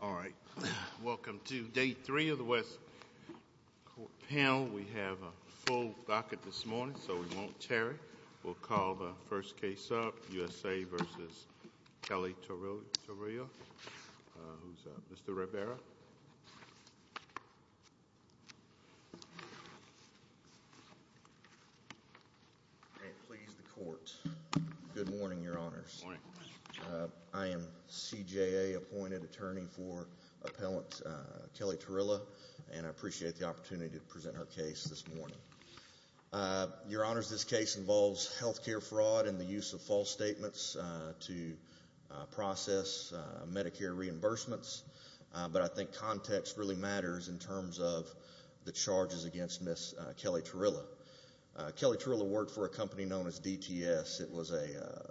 All right, welcome to Day 3 of the West Court panel. We have a full docket this morning, so we won't tarry. We'll call the first case up, U.S.A. v. Kelly-Tuorila, who's Mr. Rivera. May it please the Court. Good morning, Your Honors. I am CJA-appointed attorney for Appellant Kelly-Tuorila, and I appreciate the opportunity to present her case this morning. Your Honors, this case involves health care fraud and the use of false statements to process Medicare reimbursements, but I think context really matters in terms of the charges against Ms. Kelly-Tuorila. Kelly-Tuorila worked for a company known as DTS. It was a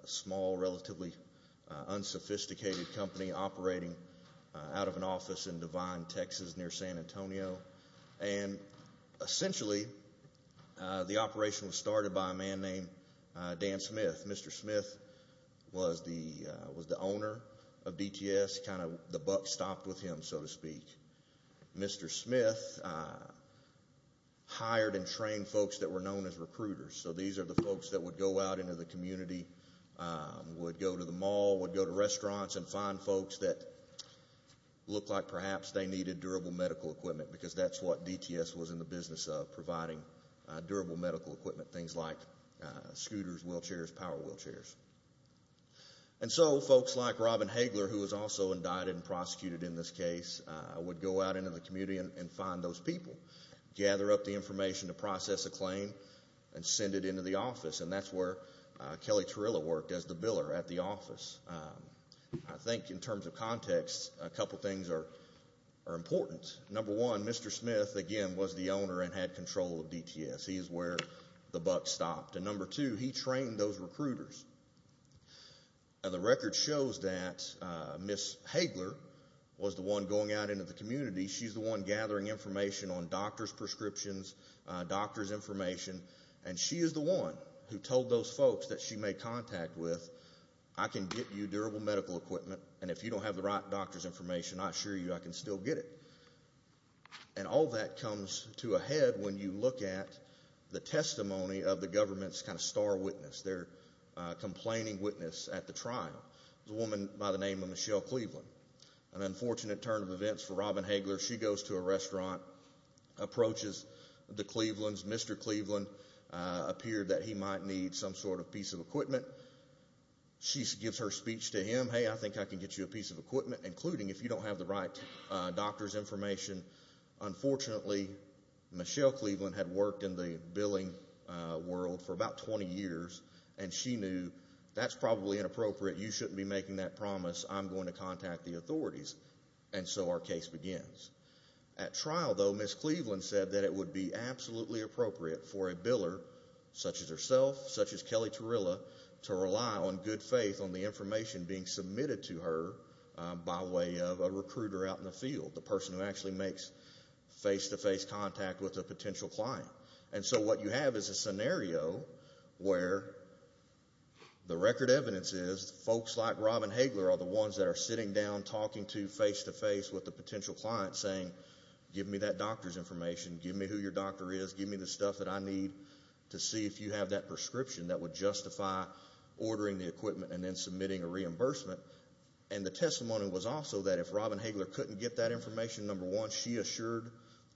small, relatively unsophisticated company operating out of an office in Devine, Texas, near San Antonio, and essentially the operation was started by a man named Dan Smith. Mr. Smith was the guy, the buck stopped with him, so to speak. Mr. Smith hired and trained folks that were known as recruiters, so these are the folks that would go out into the community, would go to the mall, would go to restaurants and find folks that looked like perhaps they needed durable medical equipment, because that's what DTS was in the business of, providing durable medical equipment, things like scooters, wheelchairs, power wheelchairs. And so folks like Robin Hagler, who was also indicted and prosecuted in this case, would go out into the community and find those people, gather up the information to process a claim and send it into the office, and that's where Kelly-Tuorila worked as the biller at the office. I think in terms of context, a couple things are important. Number one, Mr. Smith, again, was the owner and had control of DTS. He is where the buck stopped. And number two, he trained those recruiters. And the record shows that Ms. Hagler was the one going out into the community. She's the one gathering information on doctor's prescriptions, doctor's information, and she is the one who told those folks that she made contact with, I can get you durable medical equipment, and if you don't have the right doctor's information, I assure you I can still get it. And all that comes to a head when you look at the testimony of the government's kind of star witness, their complaining witness at the trial, a woman by the name of Michelle Cleveland. An unfortunate turn of events for Robin Hagler. She goes to a restaurant, approaches the Clevelands. Mr. Cleveland appeared that he might need some sort of piece of equipment. She gives her speech to him, hey, I think I can get you a piece of equipment, including if you don't have the right doctor's information. Unfortunately, Michelle Cleveland had worked in the billing world for about 20 years, and she knew that's probably inappropriate. You shouldn't be making that promise. I'm going to contact the authorities. And so our case begins. At trial, though, Ms. Cleveland said that it would be absolutely appropriate for a biller, such as herself, such as Kelly Terilla, to rely on good faith on the information being submitted to her by way of a recruiter out in the field, the person who actually makes face-to-face contact with a potential client. And so what you have is a scenario where the record evidence is folks like Robin Hagler are the ones that are sitting down talking to face-to-face with a potential client saying, give me that doctor's information, give me who your doctor is, give me the stuff that I need to see if you have that prescription that would justify ordering the equipment and then submitting a reimbursement. And the testimony was also that if Robin Hagler couldn't get that information, number one, she assured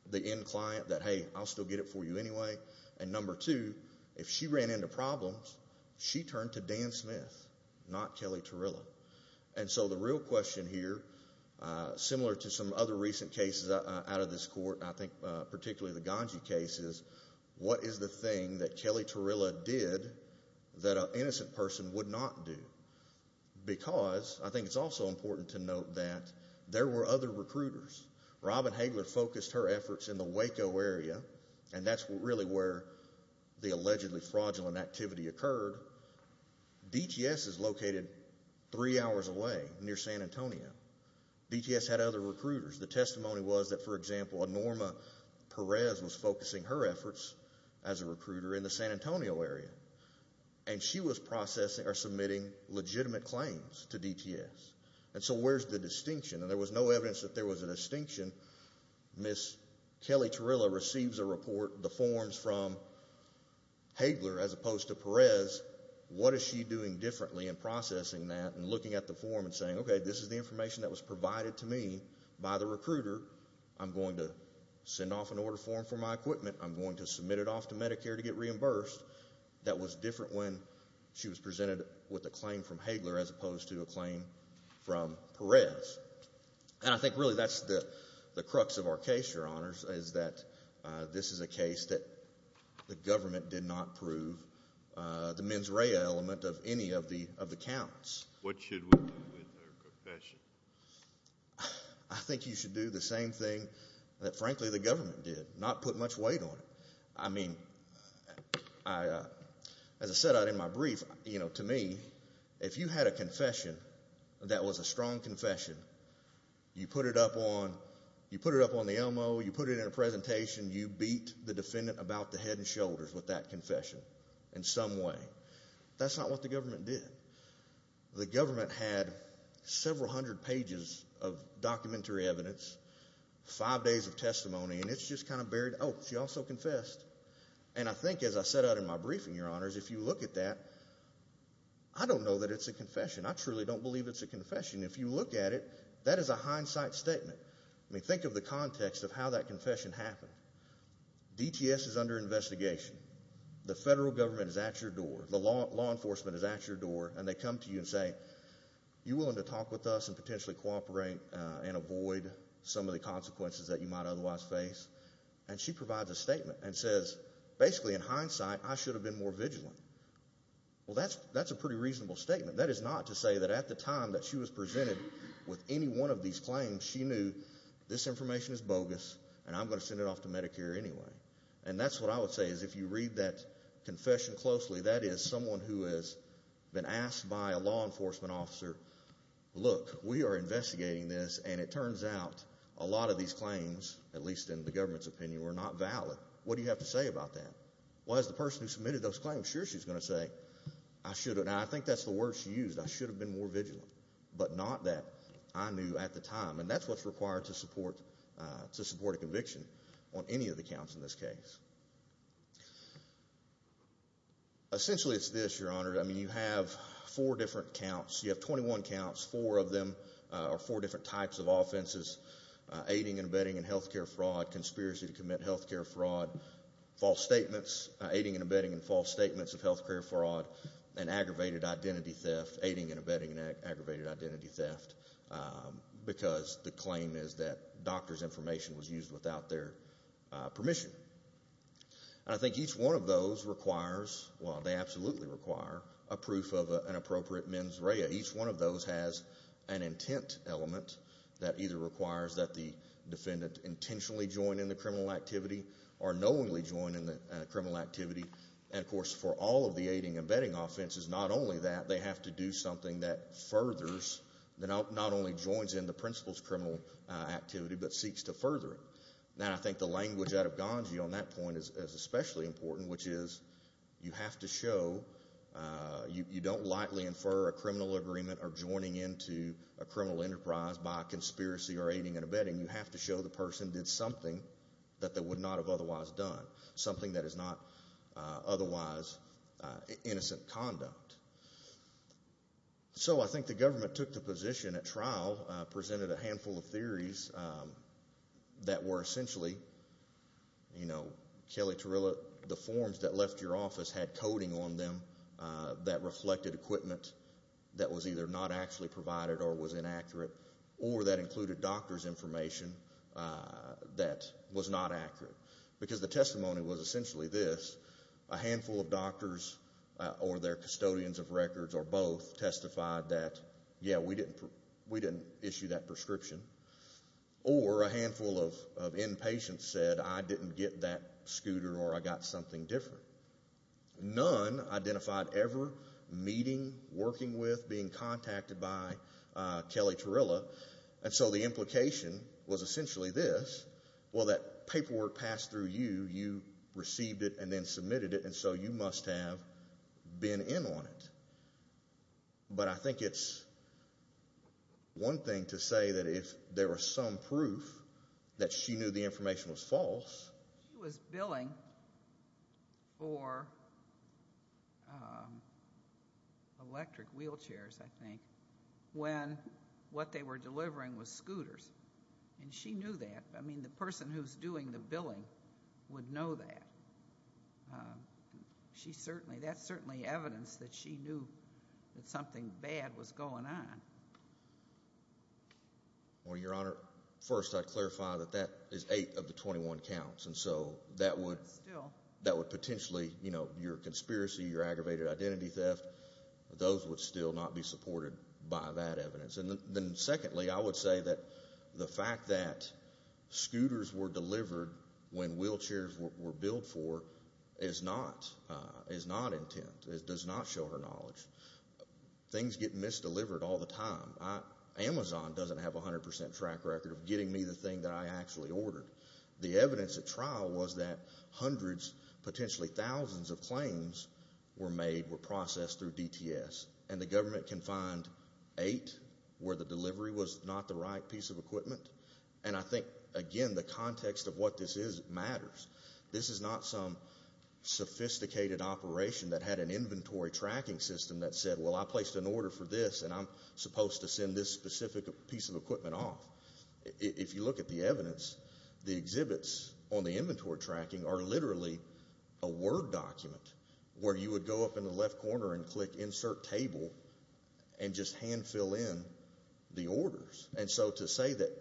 the end client that, hey, I'll still get it for you anyway. And number two, if she ran into problems, she turned to Dan Smith, not Kelly Terilla. And so the real question here, similar to some other recent cases out of this court, I think particularly the Ganji case, is what is the thing that Kelly Terilla did that an innocent person would not do? Because I think it's also important to note that there were other recruiters. Robin Hagler focused her efforts in the Waco area, and that's really where the allegedly fraudulent activity occurred. DTS is located three hours away near San Antonio. DTS had other recruiters. The testimony was that, for example, Norma Perez was focusing her efforts as a recruiter in the San Antonio area. And she was processing or submitting legitimate claims to DTS. And so where's the distinction? And there was no evidence that there was a distinction. Miss Kelly Terilla receives a report, the forms from Hagler as opposed to Perez. What is she doing differently in processing that and looking at the form and saying, okay, this is the information that was provided to me by the recruiter. I'm going to send off an order form for my equipment. I'm going to submit it off to Medicare to get reimbursed. That was different when she was presented with a claim from Hagler as opposed to a claim from Perez. And I think really that's the crux of our case, Your Honors, is that this is a case that the government did not prove the mens rea element of any of the counts. What should we do with her confession? I think you should do the same thing that, frankly, the government did, not put much weight on it. I mean, as I said in my brief, to me, if you had a confession that was a strong confession, you put it up on the Elmo, you put it in a presentation, you beat the defendant about the head and shoulders with that confession in some way. That's not what the government did. The government had several hundred pages of documentary evidence, five days of testimony, and it's just kind of buried. Oh, she also confessed. And I think, as I said out in my briefing, Your Honors, if you look at that, I don't know that it's a confession. I truly don't believe it's a confession. If you look at it, that is a hindsight statement. I mean, think of the context of how that confession happened. DTS is under investigation. The law enforcement is at your door, and they come to you and say, You willing to talk with us and potentially cooperate and avoid some of the consequences that you might otherwise face? And she provides a statement and says, Basically, in hindsight, I should have been more vigilant. Well, that's a pretty reasonable statement. That is not to say that at the time that she was presented with any one of these claims, she knew this information is bogus and I'm going to send it off to Medicare anyway. And that's what I would say, is if you read that confession closely, that is someone who has been asked by a law enforcement officer. Look, we are investigating this, and it turns out a lot of these claims, at least in the government's opinion, were not valid. What do you have to say about that? Well, as the person who submitted those claims, sure, she's going to say I should. And I think that's the word she used. I should have been more vigilant, but not that I knew at the time. And that's what's required to support to support a conviction on any of the counts in this case. Essentially, it's this, Your Honor. I mean, you have four different counts. You have 21 counts. Four of them are four different types of offenses, aiding and abetting in health care fraud, conspiracy to commit health care fraud, false statements, aiding and abetting in false statements of health care fraud, and aggravated identity theft, aiding and abetting in aggravated identity theft, because the claim is that doctor's refused without their permission. And I think each one of those requires, well, they absolutely require, a proof of an appropriate mens rea. Each one of those has an intent element that either requires that the defendant intentionally join in the criminal activity or knowingly join in the criminal activity. And, of course, for all of the aiding and abetting offenses, not only that, they have to do something that furthers, that not only joins in the principal's activity, but seeks to further it. Now, I think the language out of Ganji on that point is especially important, which is you have to show, you don't lightly infer a criminal agreement or joining into a criminal enterprise by a conspiracy or aiding and abetting. You have to show the person did something that they would not have otherwise done, something that is not otherwise innocent conduct. So I think the government took the position at the time that, you know, there were a number of cases that were essentially, you know, Kelly Terilla, the forms that left your office had coding on them that reflected equipment that was either not actually provided or was inaccurate, or that included doctor's information that was not accurate. Because the testimony was essentially this, a handful of doctors or their custodians of records or both testified that, yeah, we didn't issue that prescription. Or a handful of inpatients said, I didn't get that scooter or I got something different. None identified ever meeting, working with, being contacted by Kelly Terilla. And so the implication was essentially this, well, that paperwork passed through you, you received it and then submitted it, and so you must have been in on it. But I think it's one thing to say that if there was some proof that she knew the information was false. She was billing for electric wheelchairs, I think, when what they were delivering was scooters. And she knew that. I mean, the person who's doing the billing would know that. That's certainly evidence that she knew that something bad was going on. Well, Your Honor, first I clarify that that is 8 of the 21 counts. And so that would potentially, you know, your conspiracy, your aggravated identity theft, those would still not be supported by that evidence. And then secondly, I would say that the fact that scooters were delivered when wheelchairs were billed for is not intent. It does not show her knowledge. Things get misdelivered all the time. Amazon doesn't have a 100% track record of getting me the thing that I actually ordered. The evidence at trial was that hundreds, potentially thousands of claims were made, were processed through DTS. And the government can find 8 where the delivery was not the right piece of equipment. And I think, again, the context of what this is matters. This is not some sophisticated operation that had an inventory tracking system that said, well, I placed an order for this and I'm supposed to send this specific piece of equipment off. If you look at the evidence, the exhibits on the inventory tracking are literally a Word document where you would go up in the left corner and click insert table and just hand fill in the orders. And so to say that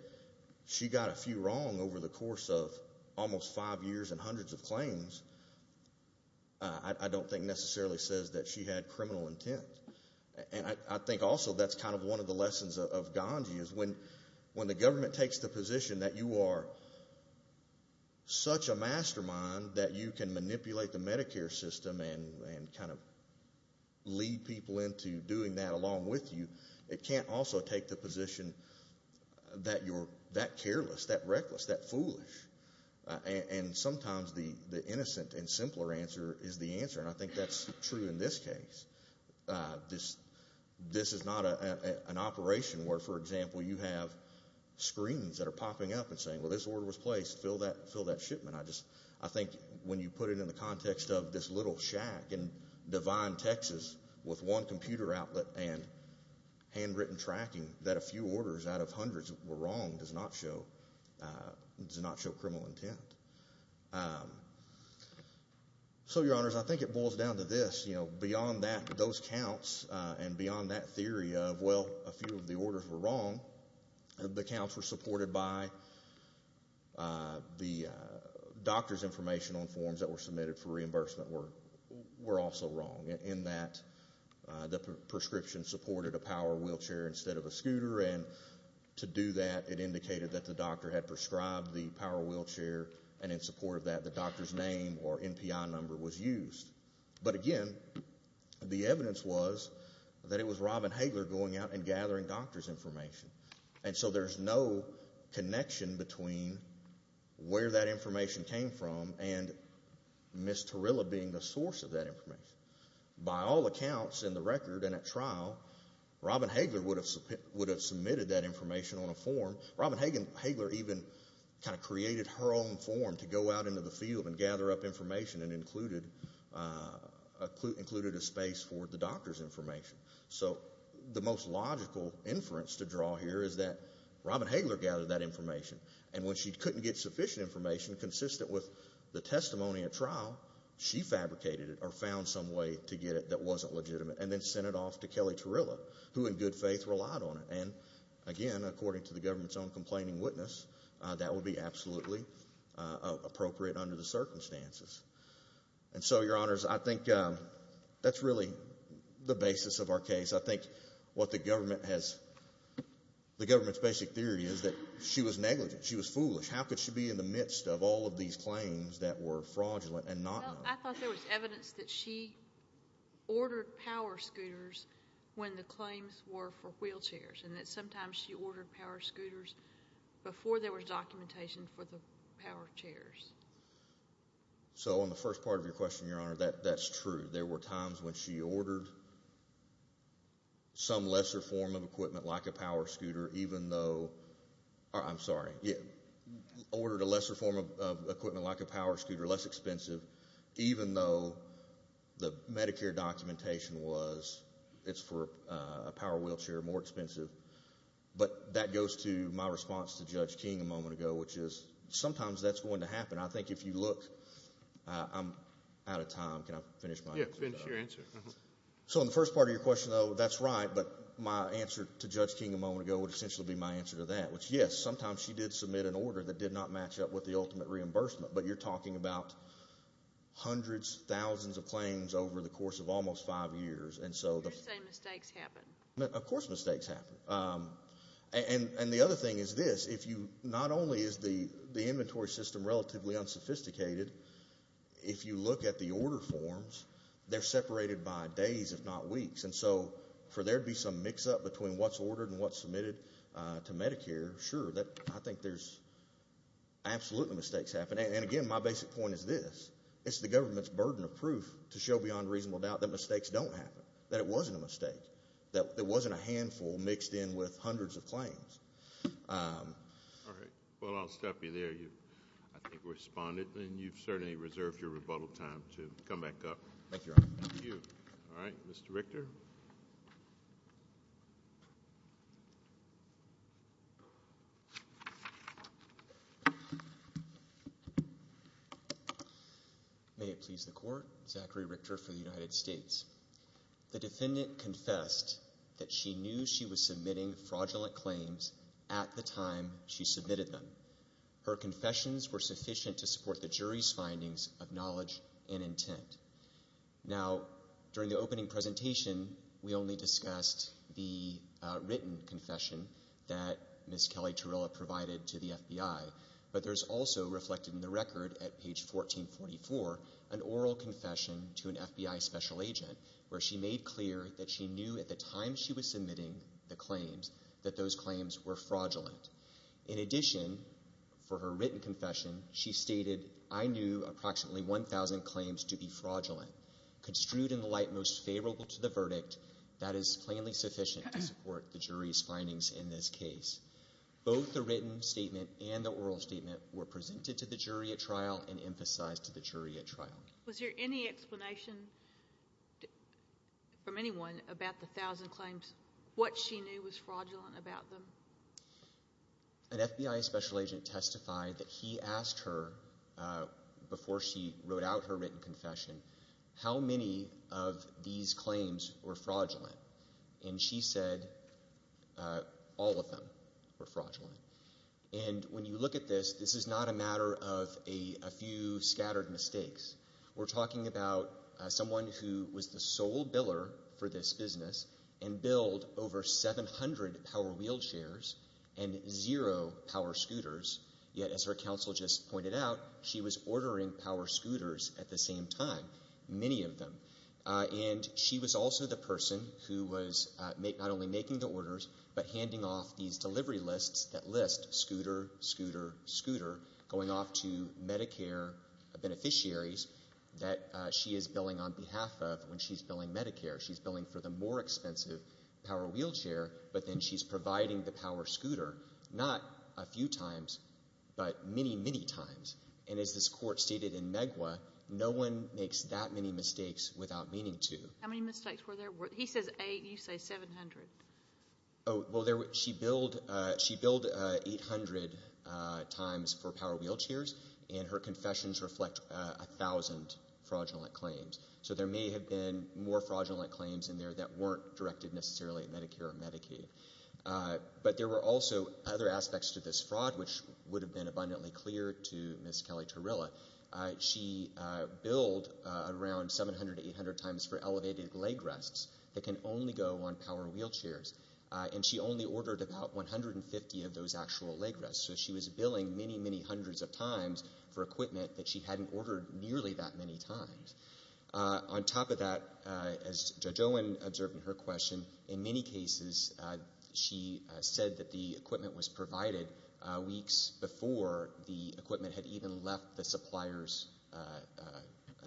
she got a few wrong over the almost 5 years and hundreds of claims, I don't think necessarily says that she had criminal intent. And I think also that's kind of one of the lessons of Gandhi is when the government takes the position that you are such a mastermind that you can manipulate the Medicare system and kind of lead people into doing that along with you, it can't also take the position that you're that careless, that reckless, that foolish. And sometimes the innocent and simpler answer is the answer. And I think that's true in this case. This is not an operation where, for example, you have screens that are popping up and saying, well, this order was placed, fill that shipment. I think when you put it in the context of this little shack in Devine, Texas, with one computer outlet and handwritten tracking that a few orders out of hundreds were wrong does not show criminal intent. So, Your Honors, I think it boils down to this. Beyond those counts and beyond that theory of, well, a few of the orders were wrong, the counts were supported by the doctor's information on forms that were submitted for reimbursement were also wrong in that the prescription supported a power wheelchair instead of a scooter. And to do that, it indicated that the doctor had prescribed the power wheelchair and in support of that, the doctor's name or NPI number was used. But again, the evidence was that it was Robin Hagler going out and gathering doctor's information. And so there's no connection between where that information came from and Ms. Tarilla being the source of that information. By all accounts in the record and at trial, Robin Hagler would have submitted that information on a form. Robin Hagler even kind of created her own form to go out into the field and gather up information and included a space for the doctor's information. So the most logical inference to draw here is that Robin Hagler gathered that information and when she couldn't get sufficient information consistent with the testimony at trial, she fabricated it or found some way to get it that wasn't legitimate and then sent it off to Kelly Tarilla, who in good faith relied on it. And again, according to the government's own complaining witness, that would be absolutely appropriate under the circumstances. And so, Your Honors, I think that's really the basis of our case. I think what the government has, the government's basic theory is that she was negligent, she was foolish. How could she be in the midst of all of these claims that were fraudulent and not known? Well, I thought there was evidence that she ordered power scooters when the claims were for wheelchairs and that sometimes she ordered power scooters before there was documentation for the power chairs. So, on the first part of your question, Your Honor, that's true. There were times when she ordered some lesser form of equipment like a power scooter even though, I'm sorry, ordered a lesser form of equipment like a power scooter, less expensive, even though the Medicare documentation was it's for a power wheelchair, more expensive. But that goes to my response to Judge King a moment ago, which is sometimes that's going to happen. And I think if you look, I'm out of time. Can I finish my answer? Yeah, finish your answer. So, on the first part of your question, though, that's right. But my answer to Judge King a moment ago would essentially be my answer to that, which yes, sometimes she did submit an order that did not match up with the ultimate reimbursement. But you're talking about hundreds, thousands of claims over the course of almost five years. You're saying mistakes happen. Of course mistakes happen. And the other thing is this. Not only is the inventory system relatively unsophisticated, if you look at the order forms, they're separated by days if not weeks. And so for there to be some mix-up between what's ordered and what's submitted to Medicare, sure, I think there's absolutely mistakes happening. And again, my basic point is this. It's the government's burden of proof to show beyond reasonable doubt that mistakes don't happen, that it wasn't a mistake, that it wasn't a handful mixed in with hundreds of claims. All right. Well, I'll stop you there. You, I think, responded. And you've certainly reserved your rebuttal time to come back up. Thank you, Your Honor. Thank you. All right. Mr. Richter. May it please the Court. Zachary Richter for the United States. The defendant confessed that she knew she was submitting fraudulent claims at the time she submitted them. Her confessions were sufficient to support the jury's findings of knowledge and intent. Now, during the opening presentation, we only discussed the written confession that Ms. Kelly Torella provided to the FBI, but there's also reflected in the record at page 1444 an oral confession to an FBI special agent where she made clear that she knew at the time she was submitting the claims that those claims were fraudulent. In addition, for her written confession, she stated, I knew approximately 1,000 claims to be fraudulent. Construed in the light most favorable to the verdict, that is plainly sufficient to support the jury's findings in this case. Both the written statement and the oral statement were presented to the jury at trial and emphasized to the jury at trial. Was there any explanation from anyone about the 1,000 claims, what she knew was fraudulent about them? An FBI special agent testified that he asked her before she wrote out her written confession how many of these claims were fraudulent, and she said all of them were fraudulent. And when you look at this, this is not a matter of a few scattered mistakes. We're talking about someone who was the sole biller for this business and billed over 700 power wheelchairs and zero power scooters, yet as her counsel just pointed out, she was ordering power scooters at the same time, many of them. And she was also the person who was not only making the list, scooter, scooter, scooter, going off to Medicare beneficiaries that she is billing on behalf of when she's billing Medicare. She's billing for the more expensive power wheelchair, but then she's providing the power scooter not a few times, but many, many times. And as this Court stated in Megwa, no one makes that many mistakes without meaning to. How many mistakes were there? He says eight, you say 700. Oh, well, she billed 800 times for power wheelchairs, and her confessions reflect a thousand fraudulent claims. So there may have been more fraudulent claims in there that weren't directed necessarily at Medicare or Medicaid. But there were also other aspects to this fraud which would have been abundantly clear to Ms. Kelly-Turrilla. She billed around 700 to 800 times for elevated leg rests that can only go on power wheelchairs. And she only ordered about 150 of those actual leg rests. So she was billing many, many hundreds of times for equipment that she hadn't ordered nearly that many times. On top of that, as Judge Owen observed in her question, in many cases she said that the equipment was provided weeks before the equipment had even left the supplier's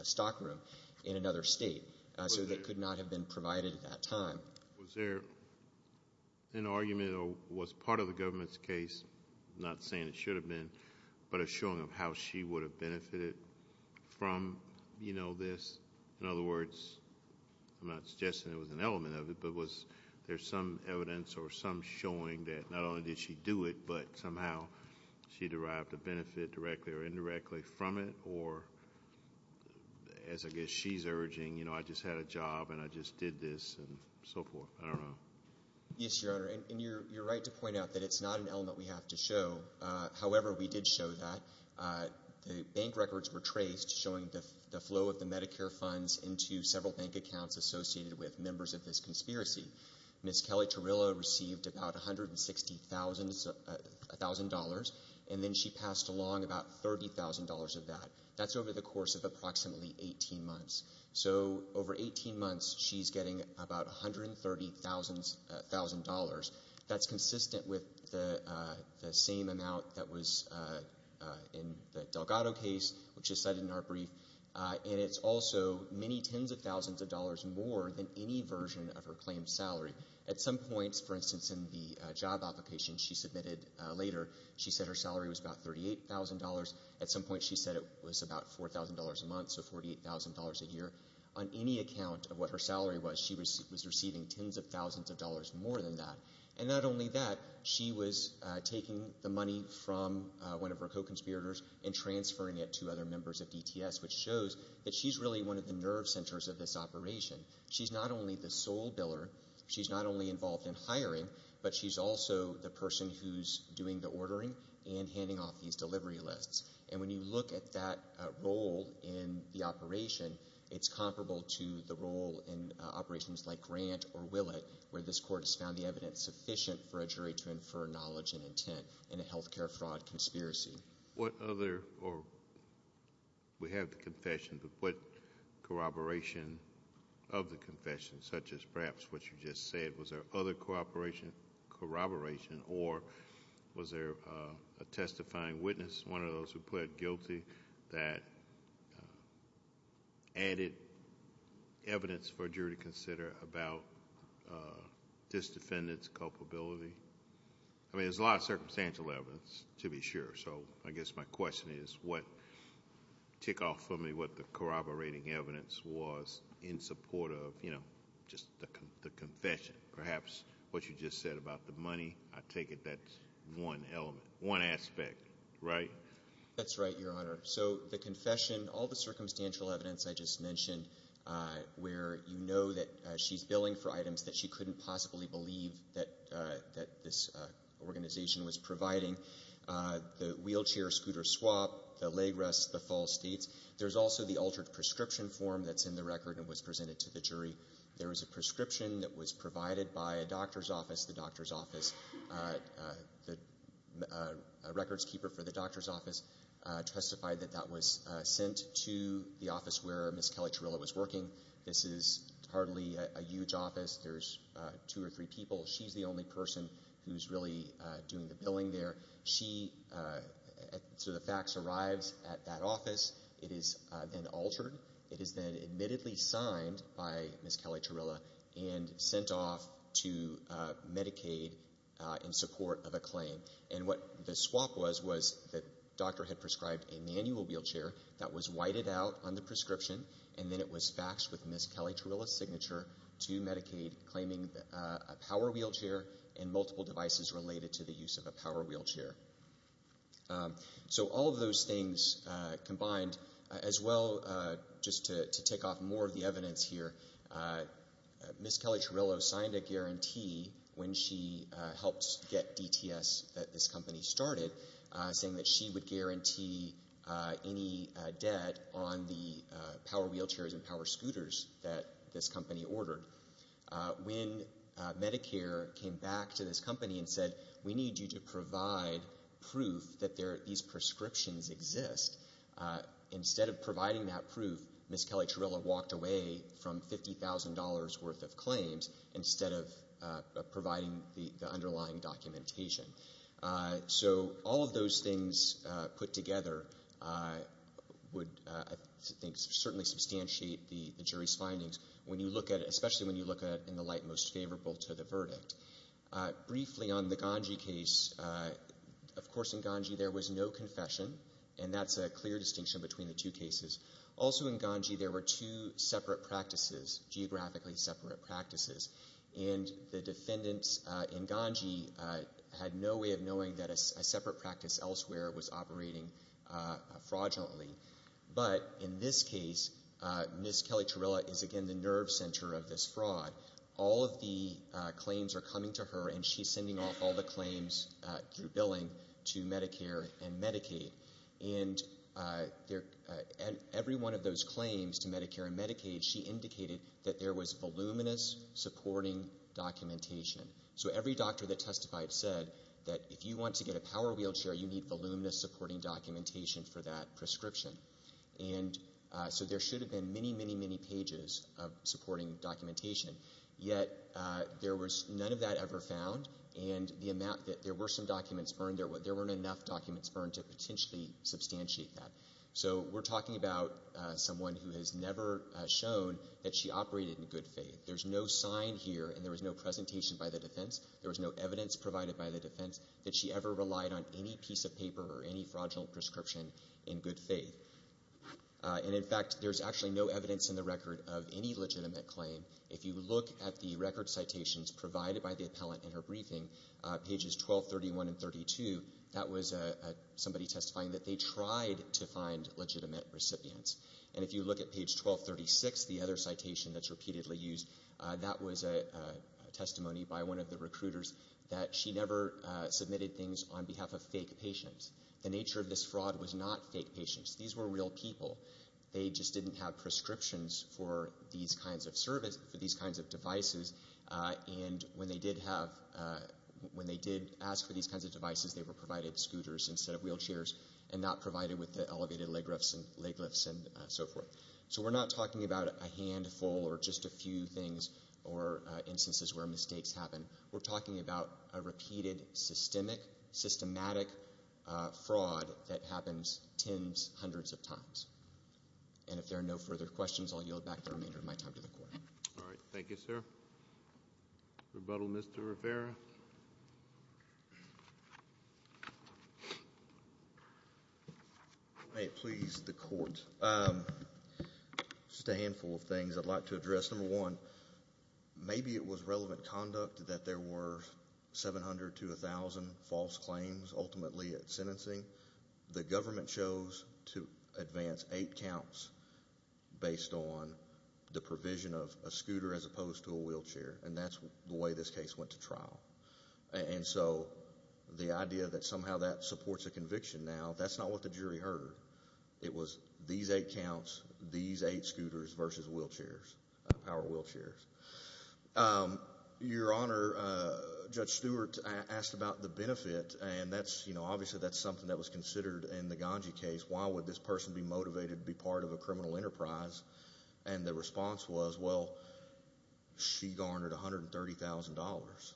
stockroom in another state. So they could not have been provided at that time. Was there an argument or was part of the government's case, not saying it should have been, but a showing of how she would have benefited from, you know, this? In other words, I'm not suggesting it was an element of it, but was there some evidence or some showing that not only did she do it, but somehow she derived a benefit directly or indirectly from it? Or, as I guess she's urging, you know, I just had a job and I just did this and so forth. I don't know. Yes, Your Honor. And you're right to point out that it's not an element we have to show. However, we did show that. The bank records were traced, showing the flow of the Medicare funds into several bank accounts associated with members of this conspiracy. Ms. Kelly-Turrilla received about $160,000, and then she passed along about $30,000 of that. That's over the course of approximately 18 months. So over 18 months, she's getting about $130,000. That's consistent with the same amount that was in the Delgado case, which is cited in our brief. And it's also many tens of thousands of dollars more than any version of her claimed salary. At some points, for instance, in the job application she submitted later, she said her salary was about $38,000. At some point, she said it was about $4,000 a month, so $48,000 a year. On any account of what her salary was, she was receiving tens of thousands of dollars more than that. And not only that, she was taking the money from one of her co-conspirators and transferring it to other members of DTS, which shows that she's really one of the nerve centers of this operation. She's not only the sole biller, she's not only involved in hiring, but she's also the person who's doing the ordering and handing off these delivery lists. And when you look at that role in the operation, it's comparable to the role in operations like Grant or Willett, where this court has found the evidence sufficient for a jury to infer knowledge and intent in a health care fraud conspiracy. What other, or we have the confession, but what corroboration of the confession, such as perhaps what you just said, was there other corroboration, or was there a testifying witness, one of those who pled guilty, that added evidence for a jury to consider about this defendant's case? I'm not really sure, so I guess my question is, tick off for me what the corroborating evidence was in support of, you know, just the confession. Perhaps what you just said about the money, I take it that's one element, one aspect, right? That's right, Your Honor. So the confession, all the circumstantial evidence I just mentioned, where you know that she's billing for items that she couldn't possibly believe that this organization was providing, the wheelchair, scooter swap, the leg rest, the false dates. There's also the altered prescription form that's in the record and was presented to the jury. There was a prescription that was provided by a doctor's office. The doctor's office, the records keeper for the doctor's office testified that that was sent to the office where Ms. Kelly Chirillo was working. This is hardly a huge office. There's two or three people. She's the only person who's really doing the billing there. So the fax arrives at that office. It is then altered. It is then admittedly signed by Ms. Kelly Chirillo and sent off to Medicaid in support of a claim. And what the swap was, was the doctor had prescribed a manual wheelchair that was whited out on the prescription, and then it was faxed with Ms. Kelly Chirillo's signature to Medicaid, claiming a power wheelchair and multiple devices related to the use of a power wheelchair. So all of those things combined, as well, just to tick off more of the evidence here, Ms. Kelly Chirillo signed a guarantee when she helped get DTS, this company, started, saying that she would guarantee any debt on the power wheelchairs and power scooters that this company ordered. When Medicare came back to this company and said, we need you to provide proof that these prescriptions exist, instead of providing that proof, Ms. Kelly Chirillo walked away from $50,000 worth of claims instead of providing the underlying documentation. So all of those things put together would, I think, certainly substantiate the jury's findings when you look at it, especially when you look at it in the light most favorable to the verdict. Briefly on the Ganji case, of course in Ganji there was no confession, and that's a clear distinction between the two cases. Also in Ganji there were two separate practices, geographically separate practices, and the defendants in Ganji had no way of knowing that a separate practice elsewhere was operating fraudulently. But in this case, Ms. Kelly Chirillo is again the nerve center of this fraud. All of the claims are coming to her and she's sending off all the claims through billing to Medicare and Medicaid. And every one of those claims to Medicare and Medicaid, she indicated that there was voluminous supporting documentation. So every doctor that testified said that if you want to get a power wheelchair, you need voluminous supporting documentation for that prescription. And so there should have been many, many, many pages of supporting documentation, yet there was none of that ever found, and the amount that there were some documents burned, there weren't enough documents burned to potentially substantiate that. So we're talking about someone who has never shown that she operated in good faith. There's no sign here and there was no presentation by the defense. There was no evidence provided by the defense that she ever relied on any piece of paper or any fraudulent prescription in good faith. And in fact, there's actually no evidence in the record of any legitimate claim. If you look at the record citations provided by the appellant in her briefing, pages 1231 and 32, that was somebody testifying that they tried to find legitimate recipients. And if you look at page 1236, the other citation that's repeatedly used, that was a testimony by one of the recruiters that she never submitted things on behalf of fake patients. The nature of this fraud was not fake patients. These were real people. They just didn't have prescriptions for these kinds of services, for these kinds of devices, and when they did have, when they did ask for these kinds of devices, they were wheelchairs and not provided with the elevated leg lifts and so forth. So we're not talking about a handful or just a few things or instances where mistakes happen. We're talking about a repeated, systemic, systematic fraud that happens tens, hundreds of times. And if there are no further questions, I'll yield back the remainder of my time to the court. All right. Thank you, sir. Rebuttal, Mr. Rivera? May it please the court. Just a handful of things I'd like to address. Number one, maybe it was relevant conduct that there were 700 to 1,000 false claims ultimately at sentencing. The government chose to advance eight counts based on the provision of a scooter as opposed to a wheelchair, and that's the way this case went to trial. And so the idea that somehow that supports a conviction now, that's not what the jury heard. It was these eight counts, these eight scooters versus wheelchairs, power wheelchairs. Your Honor, Judge Stewart asked about the benefit, and that's, you know, obviously that's something that was considered in the Ganji case. Why would this person be motivated to be part of a criminal enterprise? And the response was, well, she garnered $130,000.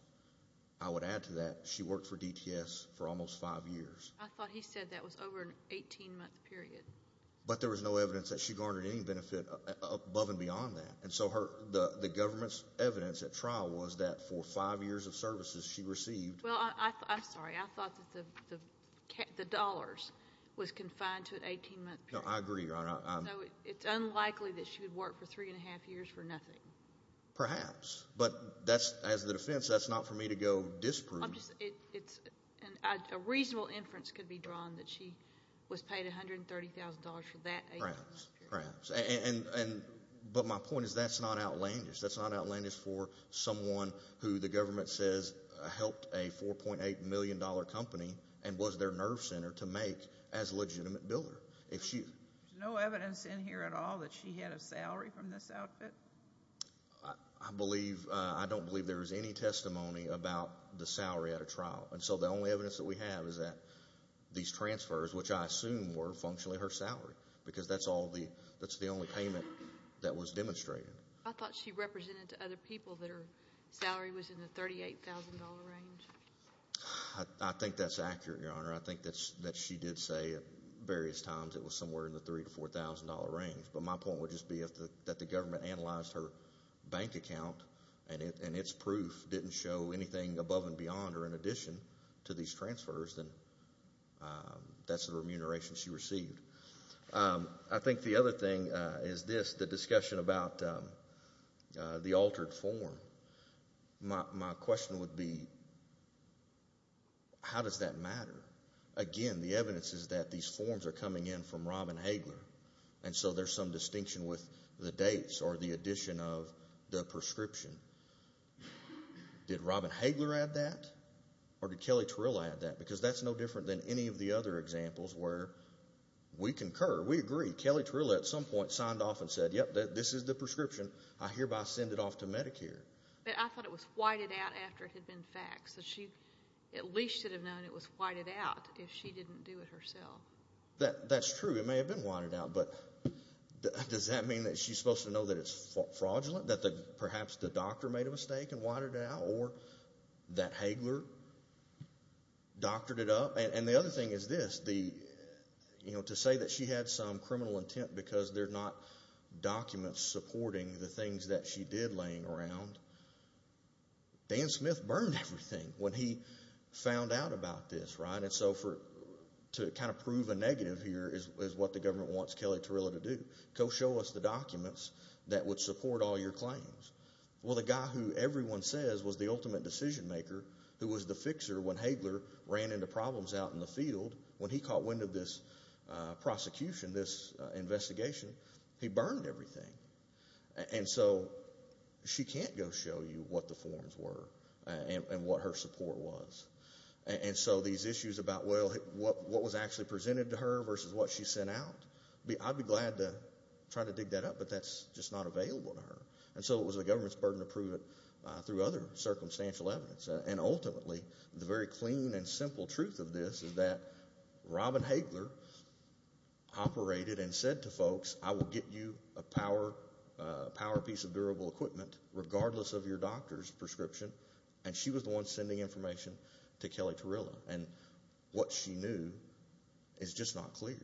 I would add to that, she worked for DTS for almost five years. I thought he said that was over an 18-month period. But there was no evidence that she garnered any benefit above and beyond that. And so the government's evidence at trial was that for five years of services she received... Well, I'm sorry. I thought that the dollars was confined to an 18-month period. No, I agree, Your Honor. It's unlikely that she would work for three and a half years for nothing. Perhaps, but as the defense, that's not for me to go disprove. A reasonable inference could be drawn that she was paid $130,000 for that 18-month period. Perhaps. But my point is that's not outlandish. That's not outlandish for someone who the government says helped a $4.8 million company and was their nerve center to make as a legitimate builder. There's no evidence in here at all that she had a salary from this outfit. I believe, I don't believe there was any testimony about the salary at a trial. And so the only evidence that we have is that these transfers, which I assume were functionally her salary, because that's the only payment that was demonstrated. I thought she represented to other people that her salary was in the $38,000 range. I think that's accurate, Your Honor. I think that she did say at various times it was somewhere in the $3,000 to $4,000 range. But my point would just be that if the government analyzed her bank account and its proof didn't show anything above and beyond or in addition to these transfers, then that's the remuneration she received. I think the other thing is this, the discussion about the altered form. My question would be, how does that matter? Again, the evidence is that these forms are coming in from Robin Hagler. And so there's some distinction with the dates or the addition of the prescription. Did Robin Hagler add that or did Kelly Terilla add that? Because that's no different than any of the other examples where we concur, we agree. Kelly Terilla at some point signed off and said, yep, this is the prescription. I hereby send it off to Medicare. I thought it was whited out after it had been faxed. She at least should have known it was fraudulent and didn't do it herself. That's true. It may have been whited out. But does that mean that she's supposed to know that it's fraudulent? That perhaps the doctor made a mistake and whited it out? Or that Hagler doctored it up? And the other thing is this, to say that she had some criminal intent because there's not documents supporting the things that she did laying around. Dan Smith burned everything when he found out about this. And so to kind of prove a negative here is what the government wants Kelly Terilla to do. Go show us the documents that would support all your claims. Well, the guy who everyone says was the ultimate decision maker, who was the fixer when Hagler ran into problems out in the field, when he caught wind of this prosecution, this investigation, he burned everything. And so she can't go show you what the forms were and what her support was. And so these issues about what was actually presented to her versus what she sent out, I'd be glad to try to dig that up, but that's just not available to her. And so it was the government's burden to prove it through other circumstantial evidence. And ultimately, the very clean and simple truth of this is that Robin Hagler operated and said to folks, I will get you a power piece of durable equipment regardless of your doctor's prescription. And she was the one sending information to Kelly Terilla. And what she knew is just not clear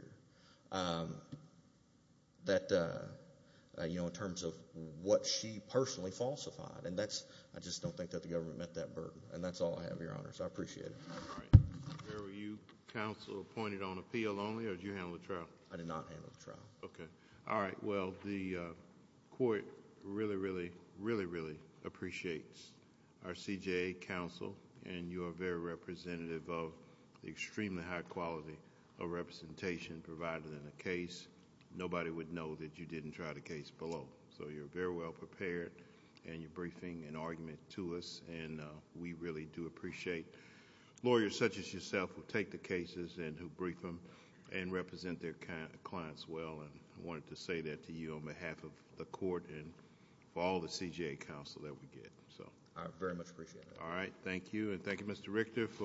in terms of what she personally falsified. And I just don't think that the government met that burden. And that's all I have, Your Honor, so I appreciate it. All right. Were you counsel appointed on appeal only or did you handle the trial? I did not handle the trial. Okay. All right. Well, the court really, really, really, really appreciates our CJA counsel and you are very representative of the extremely high quality of representation provided in the case. Nobody would know that you didn't try the case below. So you're very well prepared and you're briefing an argument to us and we really do appreciate lawyers such as yourself who take the cases and who brief them and represent their clients well. I wanted to say that to you on behalf of the court and for all the CJA counsel that we get. I very much appreciate it. All right. Thank you. And thank you, Mr. Richter, for...